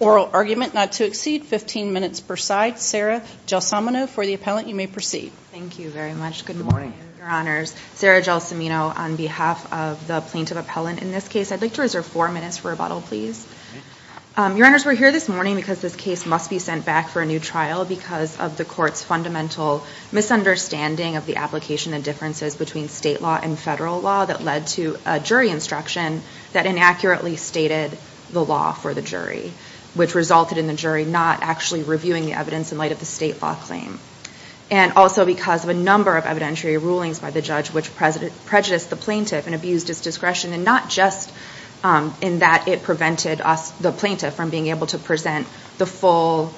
Oral argument not to exceed 15 minutes per side. Sarah Gelsomino for the appellant. You may proceed. Thank you very much. Good morning, Your Honors. Sarah Gelsomino on behalf of the plaintiff appellant in this case. I'd like to reserve four minutes for rebuttal, please. Your Honors, we're here this morning because this case must be sent back for a new trial because of the court's fundamental misunderstanding of the application and differences between state law and federal law that led to a jury instruction that inaccurately stated the law for the jury, which resulted in the jury not actually reviewing the evidence in light of the state law claim. And also because of a number of evidentiary rulings by the judge which prejudiced the plaintiff and abused his discretion, and not just in that it prevented the plaintiff from being able to present the full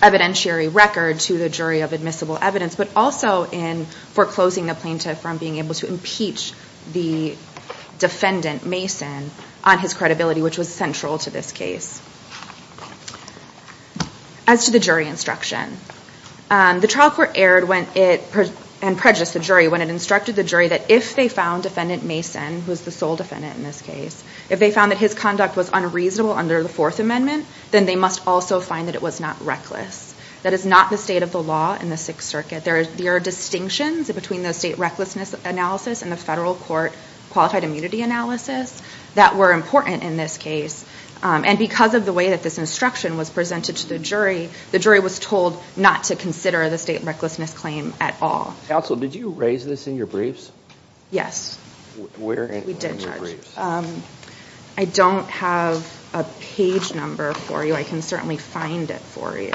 evidentiary record to the jury of admissible evidence, but also in foreclosing the plaintiff from being able to impeach the defendant, Mason, on his credibility, which was central to this case. As to the jury instruction, the trial court erred and prejudiced the jury when it instructed the jury that if they found defendant Mason, who was the sole defendant in this case, if they found that his conduct was unreasonable under the Fourth Amendment, then they must also find that it was not reckless. That is not the state of the law in the Sixth Circuit. There are distinctions between the state recklessness analysis and the federal court qualified immunity analysis that were important in this case. And because of the way that this instruction was presented to the jury, the jury was told not to consider the state recklessness claim at all. Counsel, did you raise this in your briefs? Yes. Where in your briefs? I don't have a page number for you. I can certainly find it for you.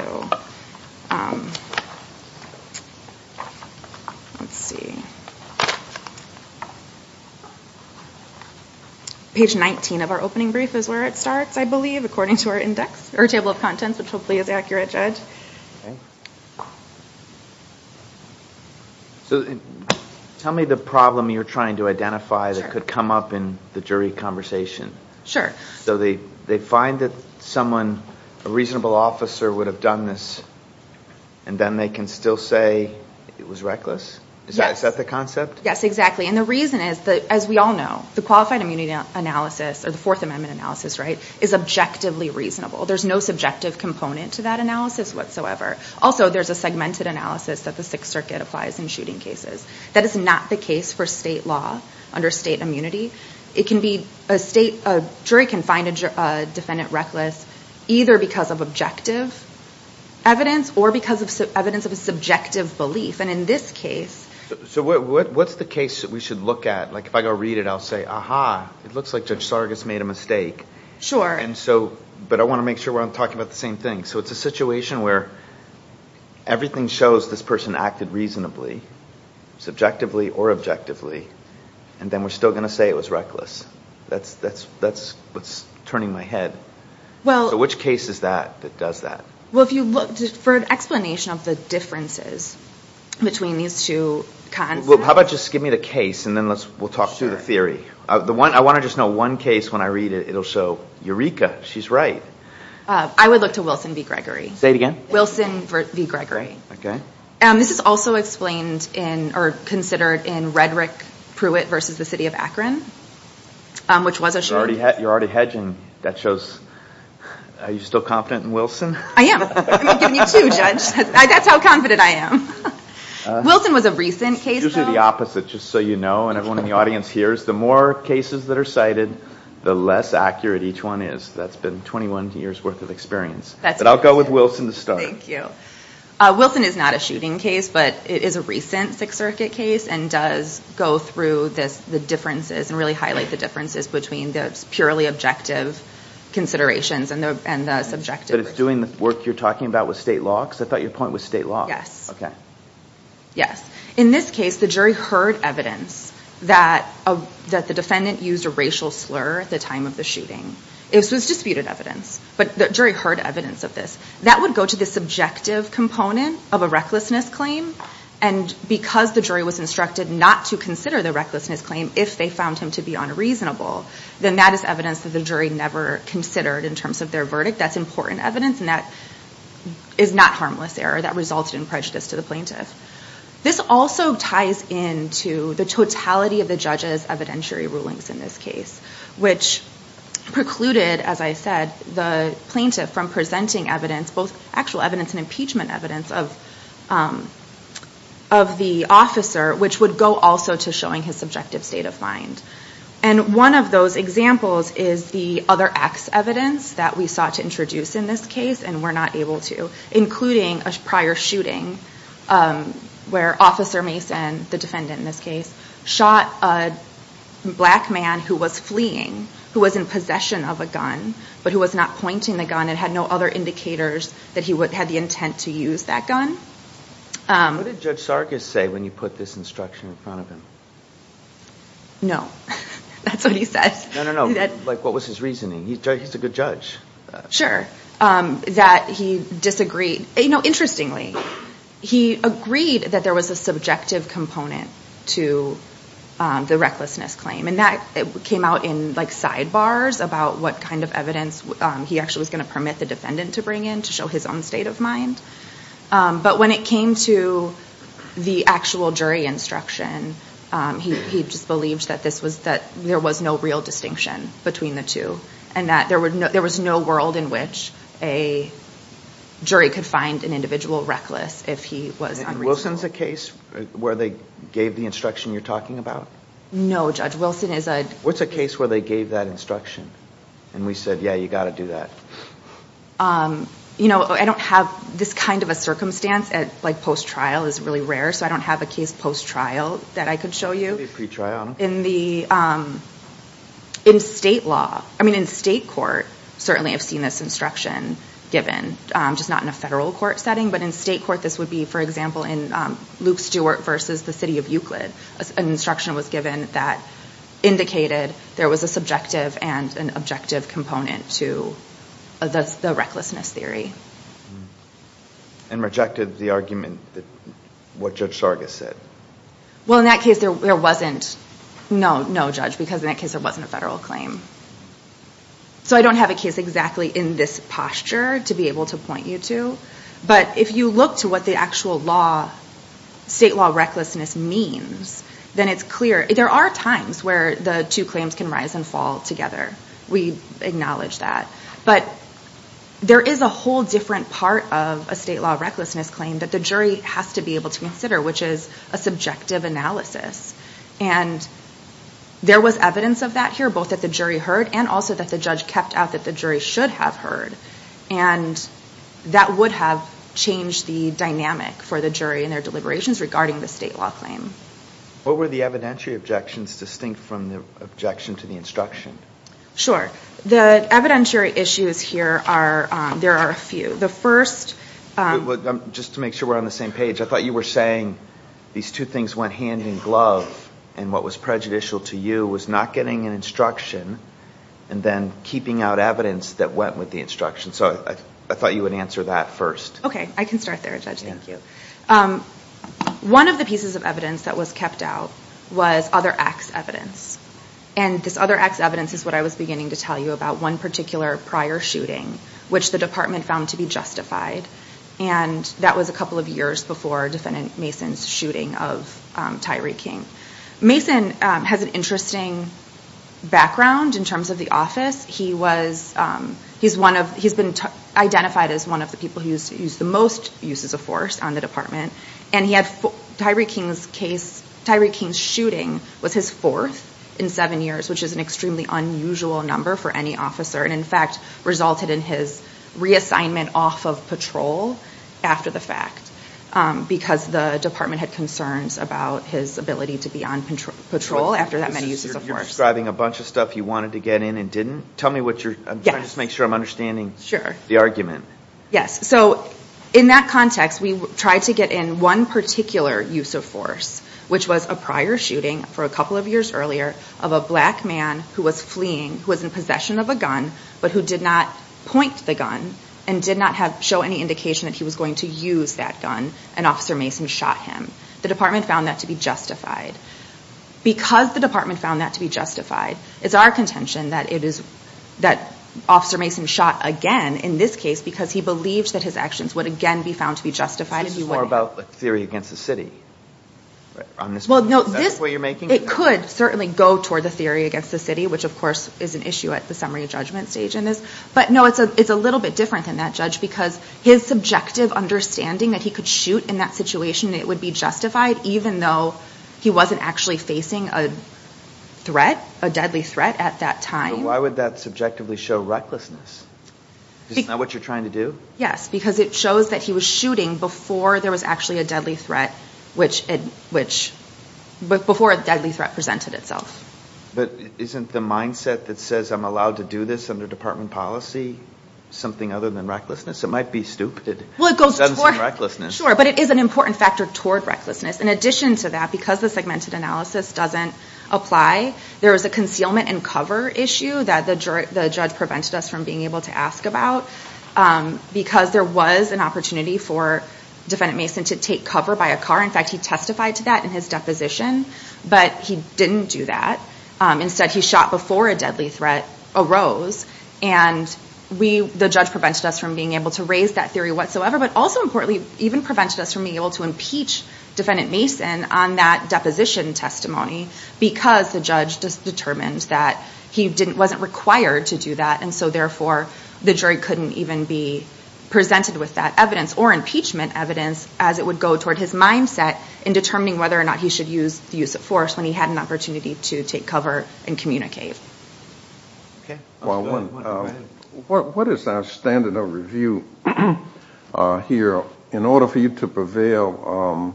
Page 19 of our opening brief is where it starts, I believe, according to our table of contents, which hopefully is accurate, Judge. So tell me the problem you're trying to identify that could come up in the jury conversation. So they find that someone, a reasonable officer, would have done this, and then they can still say it was reckless? Yes. Is that the concept? Yes, exactly. And the reason is, as we all know, the qualified immunity analysis, or the Fourth Amendment analysis, is objectively reasonable. There's no subjective component to that analysis whatsoever. Also, there's a segmented analysis that the Sixth Circuit applies in shooting cases. That is not the case for state law under state immunity. A jury can find a defendant reckless either because of objective evidence or because of evidence of a subjective belief. And in this case... So what's the case that we should look at? If I go read it, I'll say, aha, it looks like Judge Sargas made a mistake. Sure. But I want to make sure I'm talking about the same thing. So it's a situation where everything shows this person acted reasonably, subjectively or objectively, and then we're still going to say it was reckless. That's what's turning my head. So which case is that that does that? Well, if you look for an explanation of the differences between these two concepts... Well, how about just give me the case, and then we'll talk through the theory. I want to just know one case when I read it. It'll show Eureka. She's right. I would look to Wilson v. Gregory. Say it again. Wilson v. Gregory. Okay. This is also explained in or considered in Redrick Pruitt v. The City of Akron, which was assured... You're already hedging. That shows... Are you still confident in Wilson? I am. I'm giving you two, Judge. That's how confident I am. Wilson was a recent case, though. Those are the opposite, just so you know, and everyone in the audience hears. The more cases that are cited, the less accurate each one is. That's been 21 years' worth of experience. But I'll go with Wilson to start. Thank you. Wilson is not a shooting case, but it is a recent Sixth Circuit case and does go through the differences and really highlight the differences between the purely objective considerations and the subjective... But it's doing the work you're talking about with state law? Because I thought your point was state law. Yes. Okay. Yes. In this case, the jury heard evidence that the defendant used a racial slur at the time of the shooting. This was disputed evidence, but the jury heard evidence of this. That would go to the subjective component of a recklessness claim. And because the jury was instructed not to consider the recklessness claim if they found him to be unreasonable, then that is evidence that the jury never considered in terms of their verdict. That's important evidence, and that is not harmless error. That resulted in prejudice to the plaintiff. This also ties into the totality of the judge's evidentiary rulings in this case, which precluded, as I said, the plaintiff from presenting evidence, both actual evidence and impeachment evidence, of the officer, which would go also to showing his subjective state of mind. And one of those examples is the other X evidence that we sought to introduce in this case and were not able to, including a prior shooting where Officer Mason, the defendant in this case, shot a black man who was fleeing, who was in possession of a gun, but who was not pointing the gun and had no other indicators that he had the intent to use that gun. What did Judge Sargis say when you put this instruction in front of him? No. That's what he said. No, no, no. Like, what was his reasoning? He's a good judge. Sure. That he disagreed. Interestingly, he agreed that there was a subjective component to the recklessness claim, and that came out in sidebars about what kind of evidence he actually was going to permit the defendant to bring in to show his own state of mind. But when it came to the actual jury instruction, he just believed that there was no real distinction between the two and that there was no world in which a jury could find an individual reckless if he was unreasonable. And Wilson's a case where they gave the instruction you're talking about? No, Judge. Wilson is a... What's a case where they gave that instruction and we said, yeah, you've got to do that? You know, I don't have this kind of a circumstance. Like, post-trial is really rare, so I don't have a case post-trial that I could show you. Maybe pre-trial. In the state law, I mean, in state court, certainly I've seen this instruction given, just not in a federal court setting, but in state court this would be, for example, in Luke Stewart v. The City of Euclid, an instruction was given that indicated there was a subjective and an objective component to the recklessness theory. And rejected the argument that what Judge Sargas said. Well, in that case, there wasn't. No, no, Judge, because in that case there wasn't a federal claim. So I don't have a case exactly in this posture to be able to point you to. But if you look to what the actual state law recklessness means, then it's clear. There are times where the two claims can rise and fall together. We acknowledge that. But there is a whole different part of a state law recklessness claim that the jury has to be able to consider, which is a subjective analysis. And there was evidence of that here, both that the jury heard and also that the judge kept out that the jury should have heard. And that would have changed the dynamic for the jury in their deliberations regarding the state law claim. What were the evidentiary objections distinct from the objection to the instruction? Sure. The evidentiary issues here are, there are a few. The first. Just to make sure we're on the same page. I thought you were saying these two things went hand in glove. And what was prejudicial to you was not getting an instruction and then keeping out evidence that went with the instruction. So I thought you would answer that first. Okay. I can start there, Judge. Thank you. One of the pieces of evidence that was kept out was other acts evidence. And this other acts evidence is what I was beginning to tell you about one particular prior shooting, which the department found to be justified. And that was a couple of years before Defendant Mason's shooting of Tyree King. Mason has an interesting background in terms of the office. He's been identified as one of the people who's used the most uses of force on the department. And Tyree King's shooting was his fourth in seven years, which is an extremely unusual number for any officer. And, in fact, resulted in his reassignment off of patrol after the fact. Because the department had concerns about his ability to be on patrol after that many uses of force. You're describing a bunch of stuff you wanted to get in and didn't. Tell me what you're, I'm trying to make sure I'm understanding the argument. Yes. So in that context, we tried to get in one particular use of force, which was a prior shooting for a couple of years earlier of a black man who was fleeing, who was in possession of a gun, but who did not point the gun and did not show any indication that he was going to use that gun. And Officer Mason shot him. The department found that to be justified. Because the department found that to be justified, it's our contention that it is, that Officer Mason shot again in this case because he believed that his actions would again be found to be justified and he wouldn't. This is more about the theory against the city on this point. Is that the point you're making? It could certainly go toward the theory against the city, which of course is an issue at the summary judgment stage in this. But no, it's a little bit different than that, Judge, because his subjective understanding that he could shoot in that situation, it would be justified even though he wasn't actually facing a threat, a deadly threat at that time. But why would that subjectively show recklessness? Isn't that what you're trying to do? Yes, because it shows that he was shooting before there was actually a deadly threat, which, before a deadly threat presented itself. But isn't the mindset that says I'm allowed to do this under department policy something other than recklessness? It might be stupid. Well, it goes toward, sure, but it is an important factor toward recklessness. In addition to that, because the segmented analysis doesn't apply, there is a concealment and cover issue that the judge prevented us from being able to ask about. Because there was an opportunity for Defendant Mason to take cover by a car. In fact, he testified to that in his deposition, but he didn't do that. Instead, he shot before a deadly threat arose. And the judge prevented us from being able to raise that theory whatsoever, but also importantly, even prevented us from being able to impeach Defendant Mason on that deposition testimony because the judge determined that he wasn't required to do that. And so, therefore, the jury couldn't even be presented with that evidence or impeachment evidence as it would go toward his mindset in determining whether or not he should use the use of force when he had an opportunity to take cover and communicate. Well, what is our standard of review here? In order for you to prevail,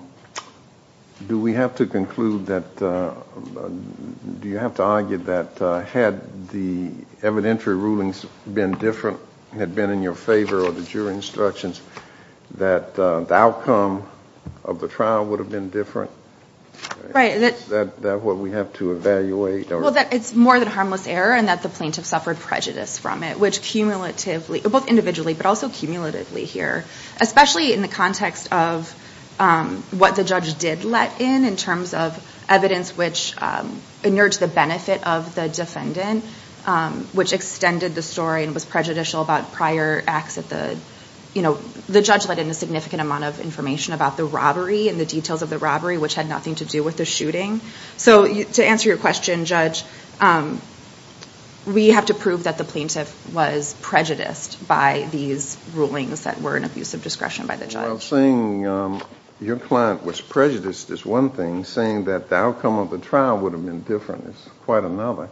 do we have to conclude that, do you have to argue that had the evidentiary rulings been different, had been in your favor or the jury instructions, that the outcome of the trial would have been different? Right. Is that what we have to evaluate? Well, that it's more than harmless error and that the plaintiff suffered prejudice from it, which cumulatively, both individually but also cumulatively here, especially in the context of what the judge did let in, in terms of evidence which inurged the benefit of the defendant, which extended the story and was prejudicial about prior acts at the, you know, the judge let in a significant amount of information about the robbery and the details of the robbery, which had nothing to do with the shooting. So to answer your question, Judge, we have to prove that the plaintiff was prejudiced by these rulings that were an abuse of discretion by the judge. Well, saying your client was prejudiced is one thing. Saying that the outcome of the trial would have been different is quite another.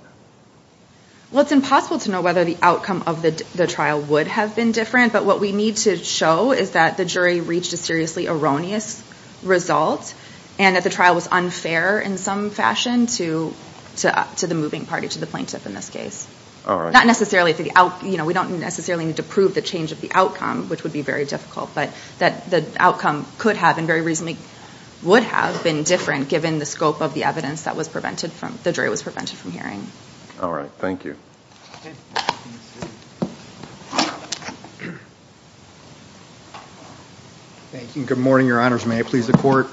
Well, it's impossible to know whether the outcome of the trial would have been different, but what we need to show is that the jury reached a seriously erroneous result and that the trial was unfair in some fashion to the moving party, to the plaintiff in this case. All right. Not necessarily, you know, we don't necessarily need to prove the change of the outcome, which would be very difficult, but that the outcome could have and very reasonably would have been different given the scope of the evidence that the jury was prevented from hearing. All right. Thank you. Thank you. Good morning, Your Honors. May I please the court?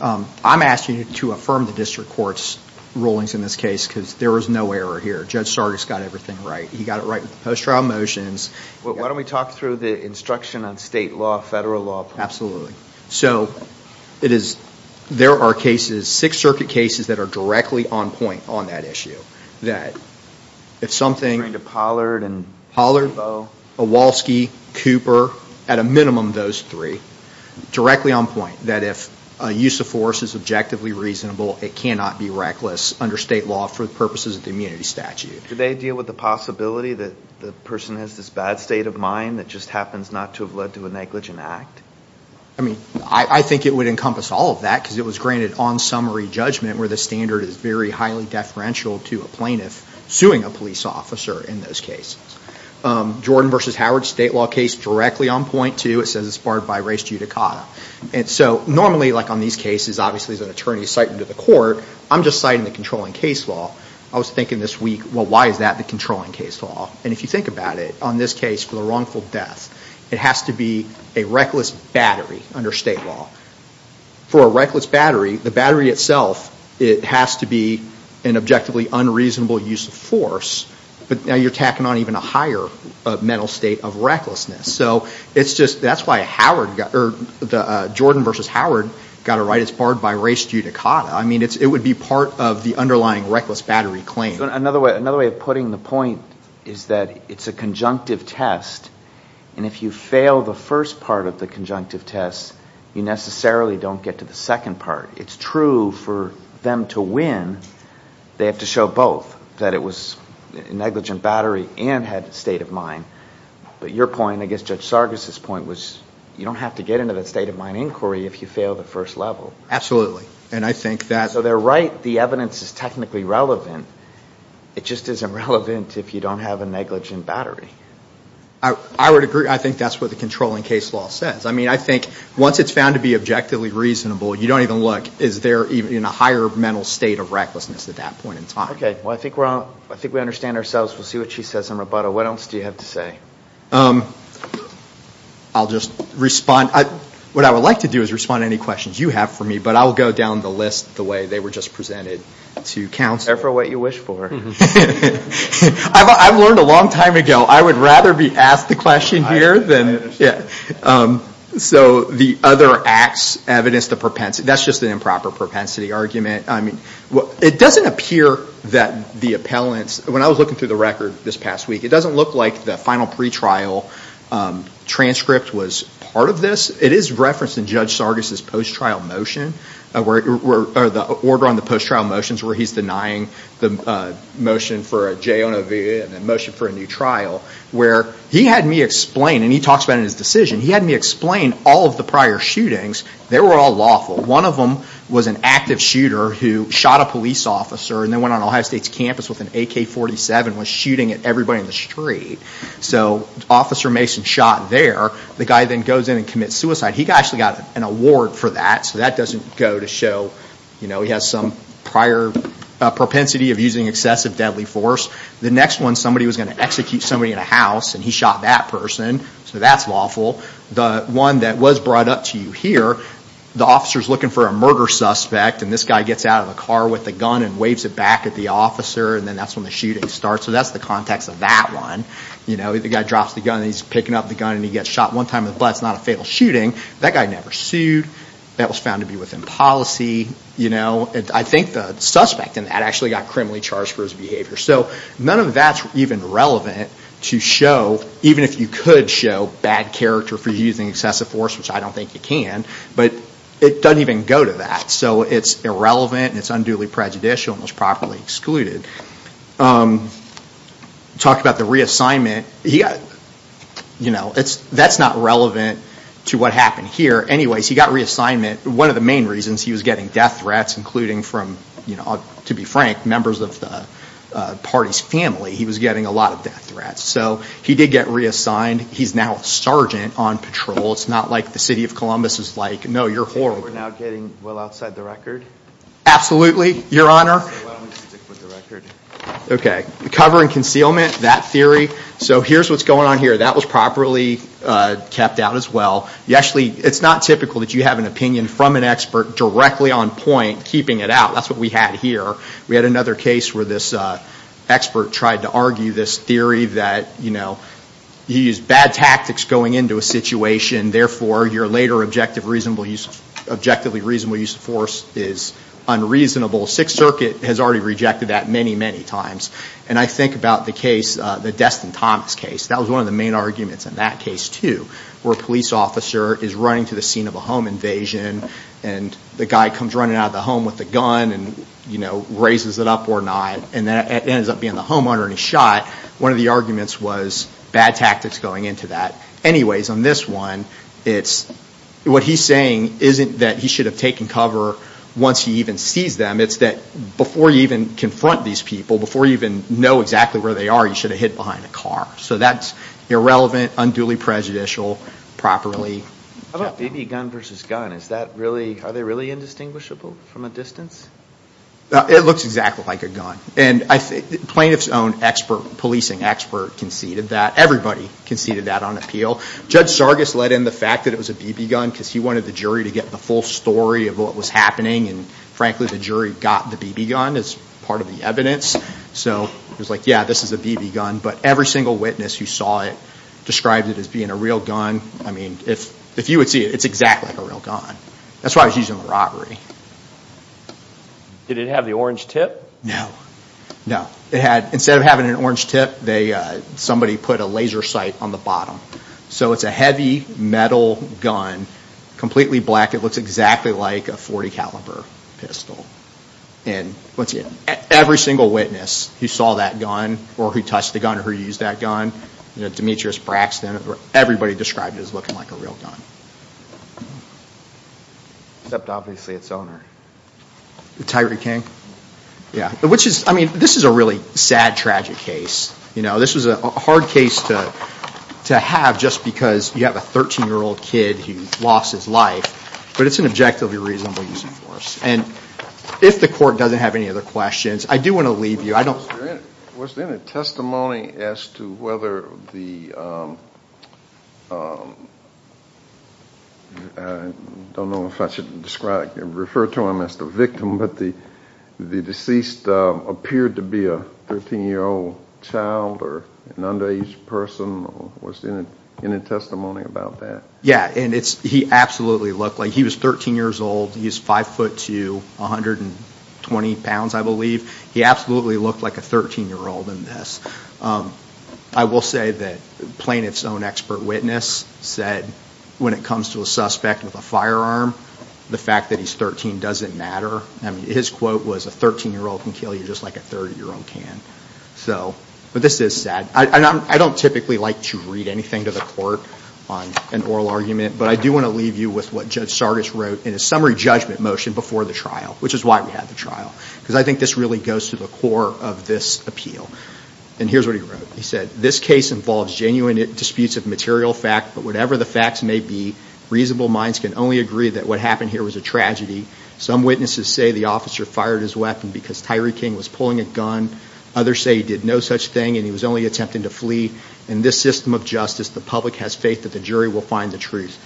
I'm asking you to affirm the district court's rulings in this case because there was no error here. Judge Sargis got everything right. He got it right with the post-trial motions. Why don't we talk through the instruction on state law, federal law? Absolutely. So there are cases, Sixth Circuit cases, that are directly on point on that issue, that if something to Pollard, Iwalski, Cooper, at a minimum those three, directly on point that if a use of force is objectively reasonable, it cannot be reckless under state law for the purposes of the immunity statute. Do they deal with the possibility that the person has this bad state of mind that just happens not to have led to a negligent act? I mean, I think it would encompass all of that because it was granted on summary judgment where the standard is very highly deferential to a plaintiff suing a police officer in those cases. Jordan v. Howard, state law case, directly on point too. It says it's barred by res judicata. And so normally, like on these cases, obviously there's an attorney citing to the court. I'm just citing the controlling case law. I was thinking this week, well, why is that the controlling case law? And if you think about it, on this case, for the wrongful death, it has to be a reckless battery under state law. For a reckless battery, the battery itself, it has to be an objectively unreasonable use of force. But now you're tacking on even a higher mental state of recklessness. So it's just that's why Jordan v. Howard got it right. It's barred by res judicata. I mean, it would be part of the underlying reckless battery claim. Another way of putting the point is that it's a conjunctive test. And if you fail the first part of the conjunctive test, you necessarily don't get to the second part. It's true for them to win, they have to show both, that it was a negligent battery and had the state of mind. But your point, I guess Judge Sargas' point, was you don't have to get into that state of mind inquiry if you fail the first level. Absolutely. And I think that – So they're right, the evidence is technically relevant. It just isn't relevant if you don't have a negligent battery. I would agree. I think that's what the controlling case law says. I mean, I think once it's found to be objectively reasonable, you don't even look. Is there even a higher mental state of recklessness at that point in time? Okay. Well, I think we understand ourselves. We'll see what she says in rebuttal. What else do you have to say? I'll just respond. What I would like to do is respond to any questions you have for me, but I will go down the list the way they were just presented to counsel. Prefer what you wish for. I've learned a long time ago I would rather be asked the question here than – So the other acts, evidence, the propensity – that's just an improper propensity argument. I mean, it doesn't appear that the appellants – when I was looking through the record this past week, it doesn't look like the final pretrial transcript was part of this. It is referenced in Judge Sargis' post-trial motion, or the order on the post-trial motions where he's denying the motion for a j on OVA and the motion for a new trial, where he had me explain, and he talks about it in his decision, he had me explain all of the prior shootings. They were all lawful. One of them was an active shooter who shot a police officer and then went on Ohio State's campus with an AK-47 and was shooting at everybody in the street. So Officer Mason shot there. The guy then goes in and commits suicide. He actually got an award for that, so that doesn't go to show he has some prior propensity of using excessive deadly force. The next one, somebody was going to execute somebody in a house, and he shot that person, so that's lawful. The one that was brought up to you here, the officer's looking for a murder suspect, and this guy gets out of the car with a gun and waves it back at the officer, and then that's when the shooting starts. So that's the context of that one. The guy drops the gun, and he's picking up the gun, and he gets shot one time in the butt. It's not a fatal shooting. That guy never sued. That was found to be within policy. I think the suspect in that actually got criminally charged for his behavior. So none of that's even relevant to show, even if you could show, bad character for using excessive force, which I don't think you can, but it doesn't even go to that. So it's irrelevant, and it's unduly prejudicial and was properly excluded. Talk about the reassignment. That's not relevant to what happened here. Anyways, he got reassignment. One of the main reasons he was getting death threats, including from, to be frank, members of the party's family, he was getting a lot of death threats. So he did get reassigned. He's now a sergeant on patrol. It's not like the city of Columbus is like, no, you're horrible. We're now getting well outside the record? Absolutely, Your Honor. Cover and concealment, that theory. So here's what's going on here. That was properly kept out as well. Actually, it's not typical that you have an opinion from an expert directly on point keeping it out. That's what we had here. We had another case where this expert tried to argue this theory that, you know, he used bad tactics going into a situation, therefore your later objectively reasonable use of force is unreasonable. Sixth Circuit has already rejected that many, many times. And I think about the case, the Destin Thomas case. That was one of the main arguments in that case too, where a police officer is running to the scene of a home invasion, and the guy comes running out of the home with a gun, and, you know, raises it up or not, and it ends up being the homeowner and he's shot. One of the arguments was bad tactics going into that. Anyways, on this one, what he's saying isn't that he should have taken cover once he even sees them. It's that before you even confront these people, before you even know exactly where they are, you should have hid behind a car. So that's irrelevant, unduly prejudicial, properly kept out. How about baby gun versus gun? Are they really indistinguishable from a distance? It looks exactly like a gun. And plaintiff's own policing expert conceded that. Everybody conceded that on appeal. Judge Sargas led in the fact that it was a BB gun because he wanted the jury to get the full story of what was happening, and frankly the jury got the BB gun as part of the evidence. So it was like, yeah, this is a BB gun, but every single witness who saw it described it as being a real gun. I mean, if you would see it, it's exactly like a real gun. That's why he's using the robbery. Did it have the orange tip? No. No. Instead of having an orange tip, somebody put a laser sight on the bottom. So it's a heavy metal gun, completely black. It looks exactly like a .40 caliber pistol. And every single witness who saw that gun or who touched the gun or who used that gun, Demetrius Braxton, everybody described it as looking like a real gun. Except obviously its owner. Tyree King. Yeah. Which is, I mean, this is a really sad, tragic case. You know, this was a hard case to have just because you have a 13-year-old kid who lost his life, but it's an objectively reasonable use of force. And if the court doesn't have any other questions, I do want to leave you. Was there any testimony as to whether the, I don't know if I should refer to him as the victim, but the deceased appeared to be a 13-year-old child or an underage person? Was there any testimony about that? Yeah, and he absolutely looked like he was 13 years old. He was 5'2", 120 pounds, I believe. He absolutely looked like a 13-year-old in this. I will say that plaintiff's own expert witness said when it comes to a suspect with a firearm, the fact that he's 13 doesn't matter. I mean, his quote was, a 13-year-old can kill you just like a 30-year-old can. So, but this is sad. I don't typically like to read anything to the court on an oral argument, but I do want to leave you with what Judge Sardis wrote in a summary judgment motion before the trial, which is why we had the trial. Because I think this really goes to the core of this appeal. And here's what he wrote. He said, This case involves genuine disputes of material fact, but whatever the facts may be, reasonable minds can only agree that what happened here was a tragedy. Some witnesses say the officer fired his weapon because Tyree King was pulling a gun. Others say he did no such thing and he was only attempting to flee. In this system of justice, the public has faith that the jury will find the truth.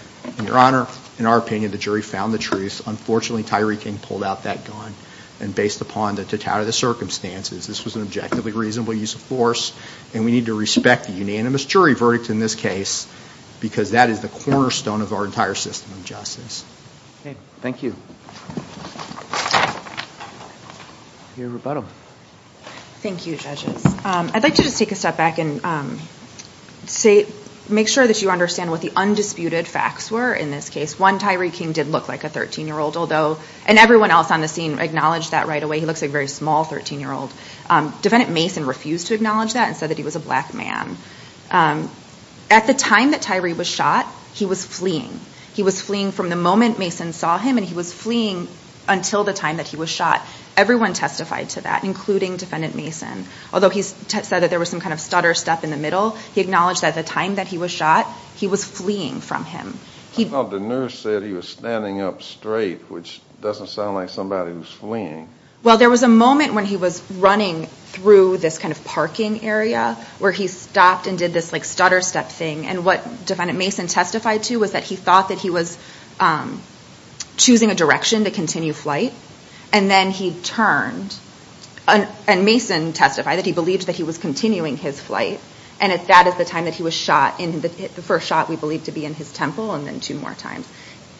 Your Honor, in our opinion, the jury found the truth. Unfortunately, Tyree King pulled out that gun and based upon the totality of the circumstances, this was an objectively reasonable use of force and we need to respect the unanimous jury verdict in this case because that is the cornerstone of our entire system of justice. Okay. Thank you. Your rebuttal. Thank you, judges. I'd like to just take a step back and say, make sure that you understand what the undisputed facts were in this case. One, Tyree King did look like a 13-year-old, and everyone else on the scene acknowledged that right away. He looks like a very small 13-year-old. Defendant Mason refused to acknowledge that and said that he was a black man. At the time that Tyree was shot, he was fleeing. He was fleeing from the moment Mason saw him and he was fleeing until the time that he was shot. Everyone testified to that, including Defendant Mason. Although he said that there was some kind of stutter stuff in the middle, he acknowledged that at the time that he was shot, he was fleeing from him. I thought the nurse said he was standing up straight, which doesn't sound like somebody who's fleeing. Well, there was a moment when he was running through this kind of parking area where he stopped and did this stutter step thing. What Defendant Mason testified to was that he thought that he was choosing a direction to continue flight, and then he turned. Mason testified that he believed that he was continuing his flight, and that is the time that he was shot, the first shot we believe to be in his temple and then two more times.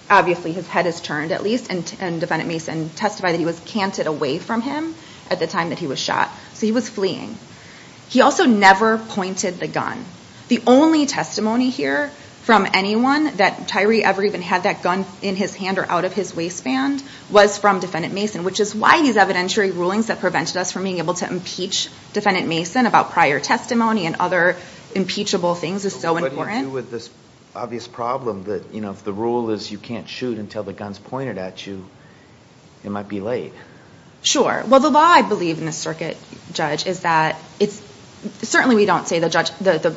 Obviously his head is turned at least, and Defendant Mason testified that he was canted away from him at the time that he was shot, so he was fleeing. He also never pointed the gun. The only testimony here from anyone that Tyree ever even had that gun in his hand or out of his waistband was from Defendant Mason, which is why these evidentiary rulings that prevented us from being able to impeach Defendant Mason about prior testimony and other impeachable things is so important. What do you do with this obvious problem that, you know, if the rule is you can't shoot until the gun's pointed at you, it might be late. Sure. Well, the law I believe in this circuit, Judge, is that it's – certainly we don't say the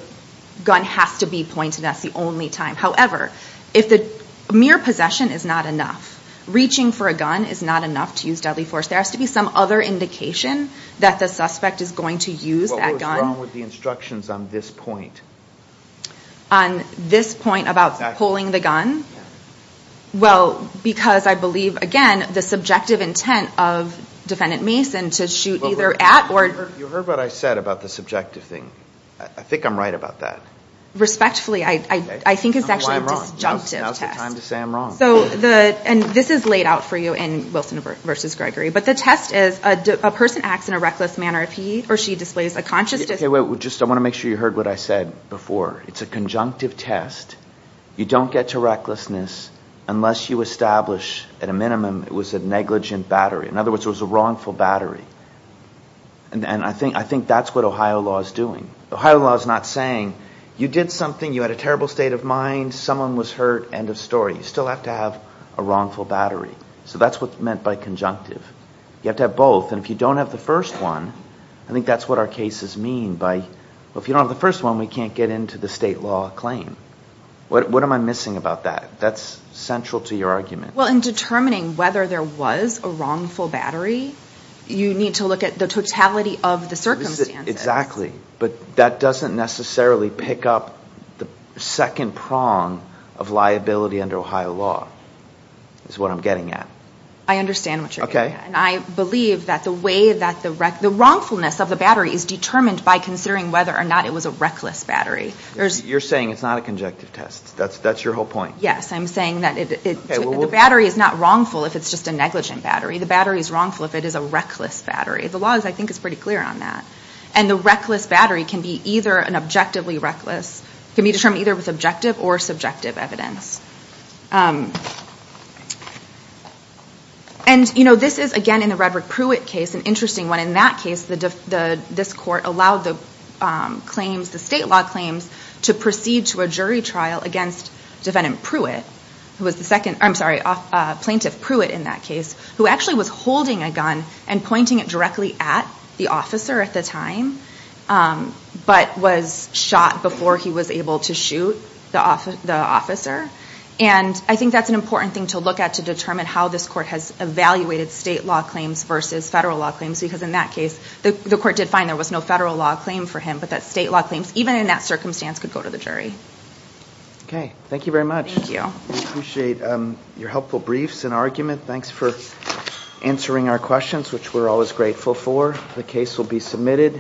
gun has to be pointed at the only time. However, if the mere possession is not enough, reaching for a gun is not enough to use deadly force, there has to be some other indication that the suspect is going to use that gun. What's wrong with the instructions on this point? On this point about pulling the gun? Well, because I believe, again, the subjective intent of Defendant Mason to shoot either at or – You heard what I said about the subjective thing. I think I'm right about that. Respectfully, I think it's actually a disjunctive test. Now's the time to say I'm wrong. And this is laid out for you in Wilson v. Gregory, but the test is a person acts in a reckless manner if he displays a conscious – Okay, wait. I want to make sure you heard what I said before. It's a conjunctive test. You don't get to recklessness unless you establish, at a minimum, it was a negligent battery. In other words, it was a wrongful battery. And I think that's what Ohio law is doing. Ohio law is not saying you did something, you had a terrible state of mind, someone was hurt, end of story. You still have to have a wrongful battery. So that's what's meant by conjunctive. You have to have both. And if you don't have the first one, I think that's what our cases mean. If you don't have the first one, we can't get into the state law claim. What am I missing about that? That's central to your argument. Well, in determining whether there was a wrongful battery, you need to look at the totality of the circumstances. Exactly. But that doesn't necessarily pick up the second prong of liability under Ohio law is what I'm getting at. I understand what you're getting at. And I believe that the way that the wrongfulness of the battery is determined by considering whether or not it was a reckless battery. You're saying it's not a conjunctive test. That's your whole point. Yes. I'm saying that the battery is not wrongful if it's just a negligent battery. The battery is wrongful if it is a reckless battery. The law, I think, is pretty clear on that. And the reckless battery can be either objectively reckless, can be determined either with objective or subjective evidence. And this is, again, in the Redrick Pruitt case, an interesting one. In that case, this court allowed the state law claims to proceed to a jury trial against Defendant Pruitt, who was the second, I'm sorry, Plaintiff Pruitt in that case, who actually was holding a gun and pointing it directly at the officer at the time but was shot before he was able to shoot the officer. And I think that's an important thing to look at to determine how this court has evaluated state law claims versus federal law claims because in that case, the court did find there was no federal law claim for him but that state law claims, even in that circumstance, could go to the jury. Okay. Thank you very much. Thank you. We appreciate your helpful briefs and argument. Thanks for answering our questions, which we're always grateful for. The case will be submitted.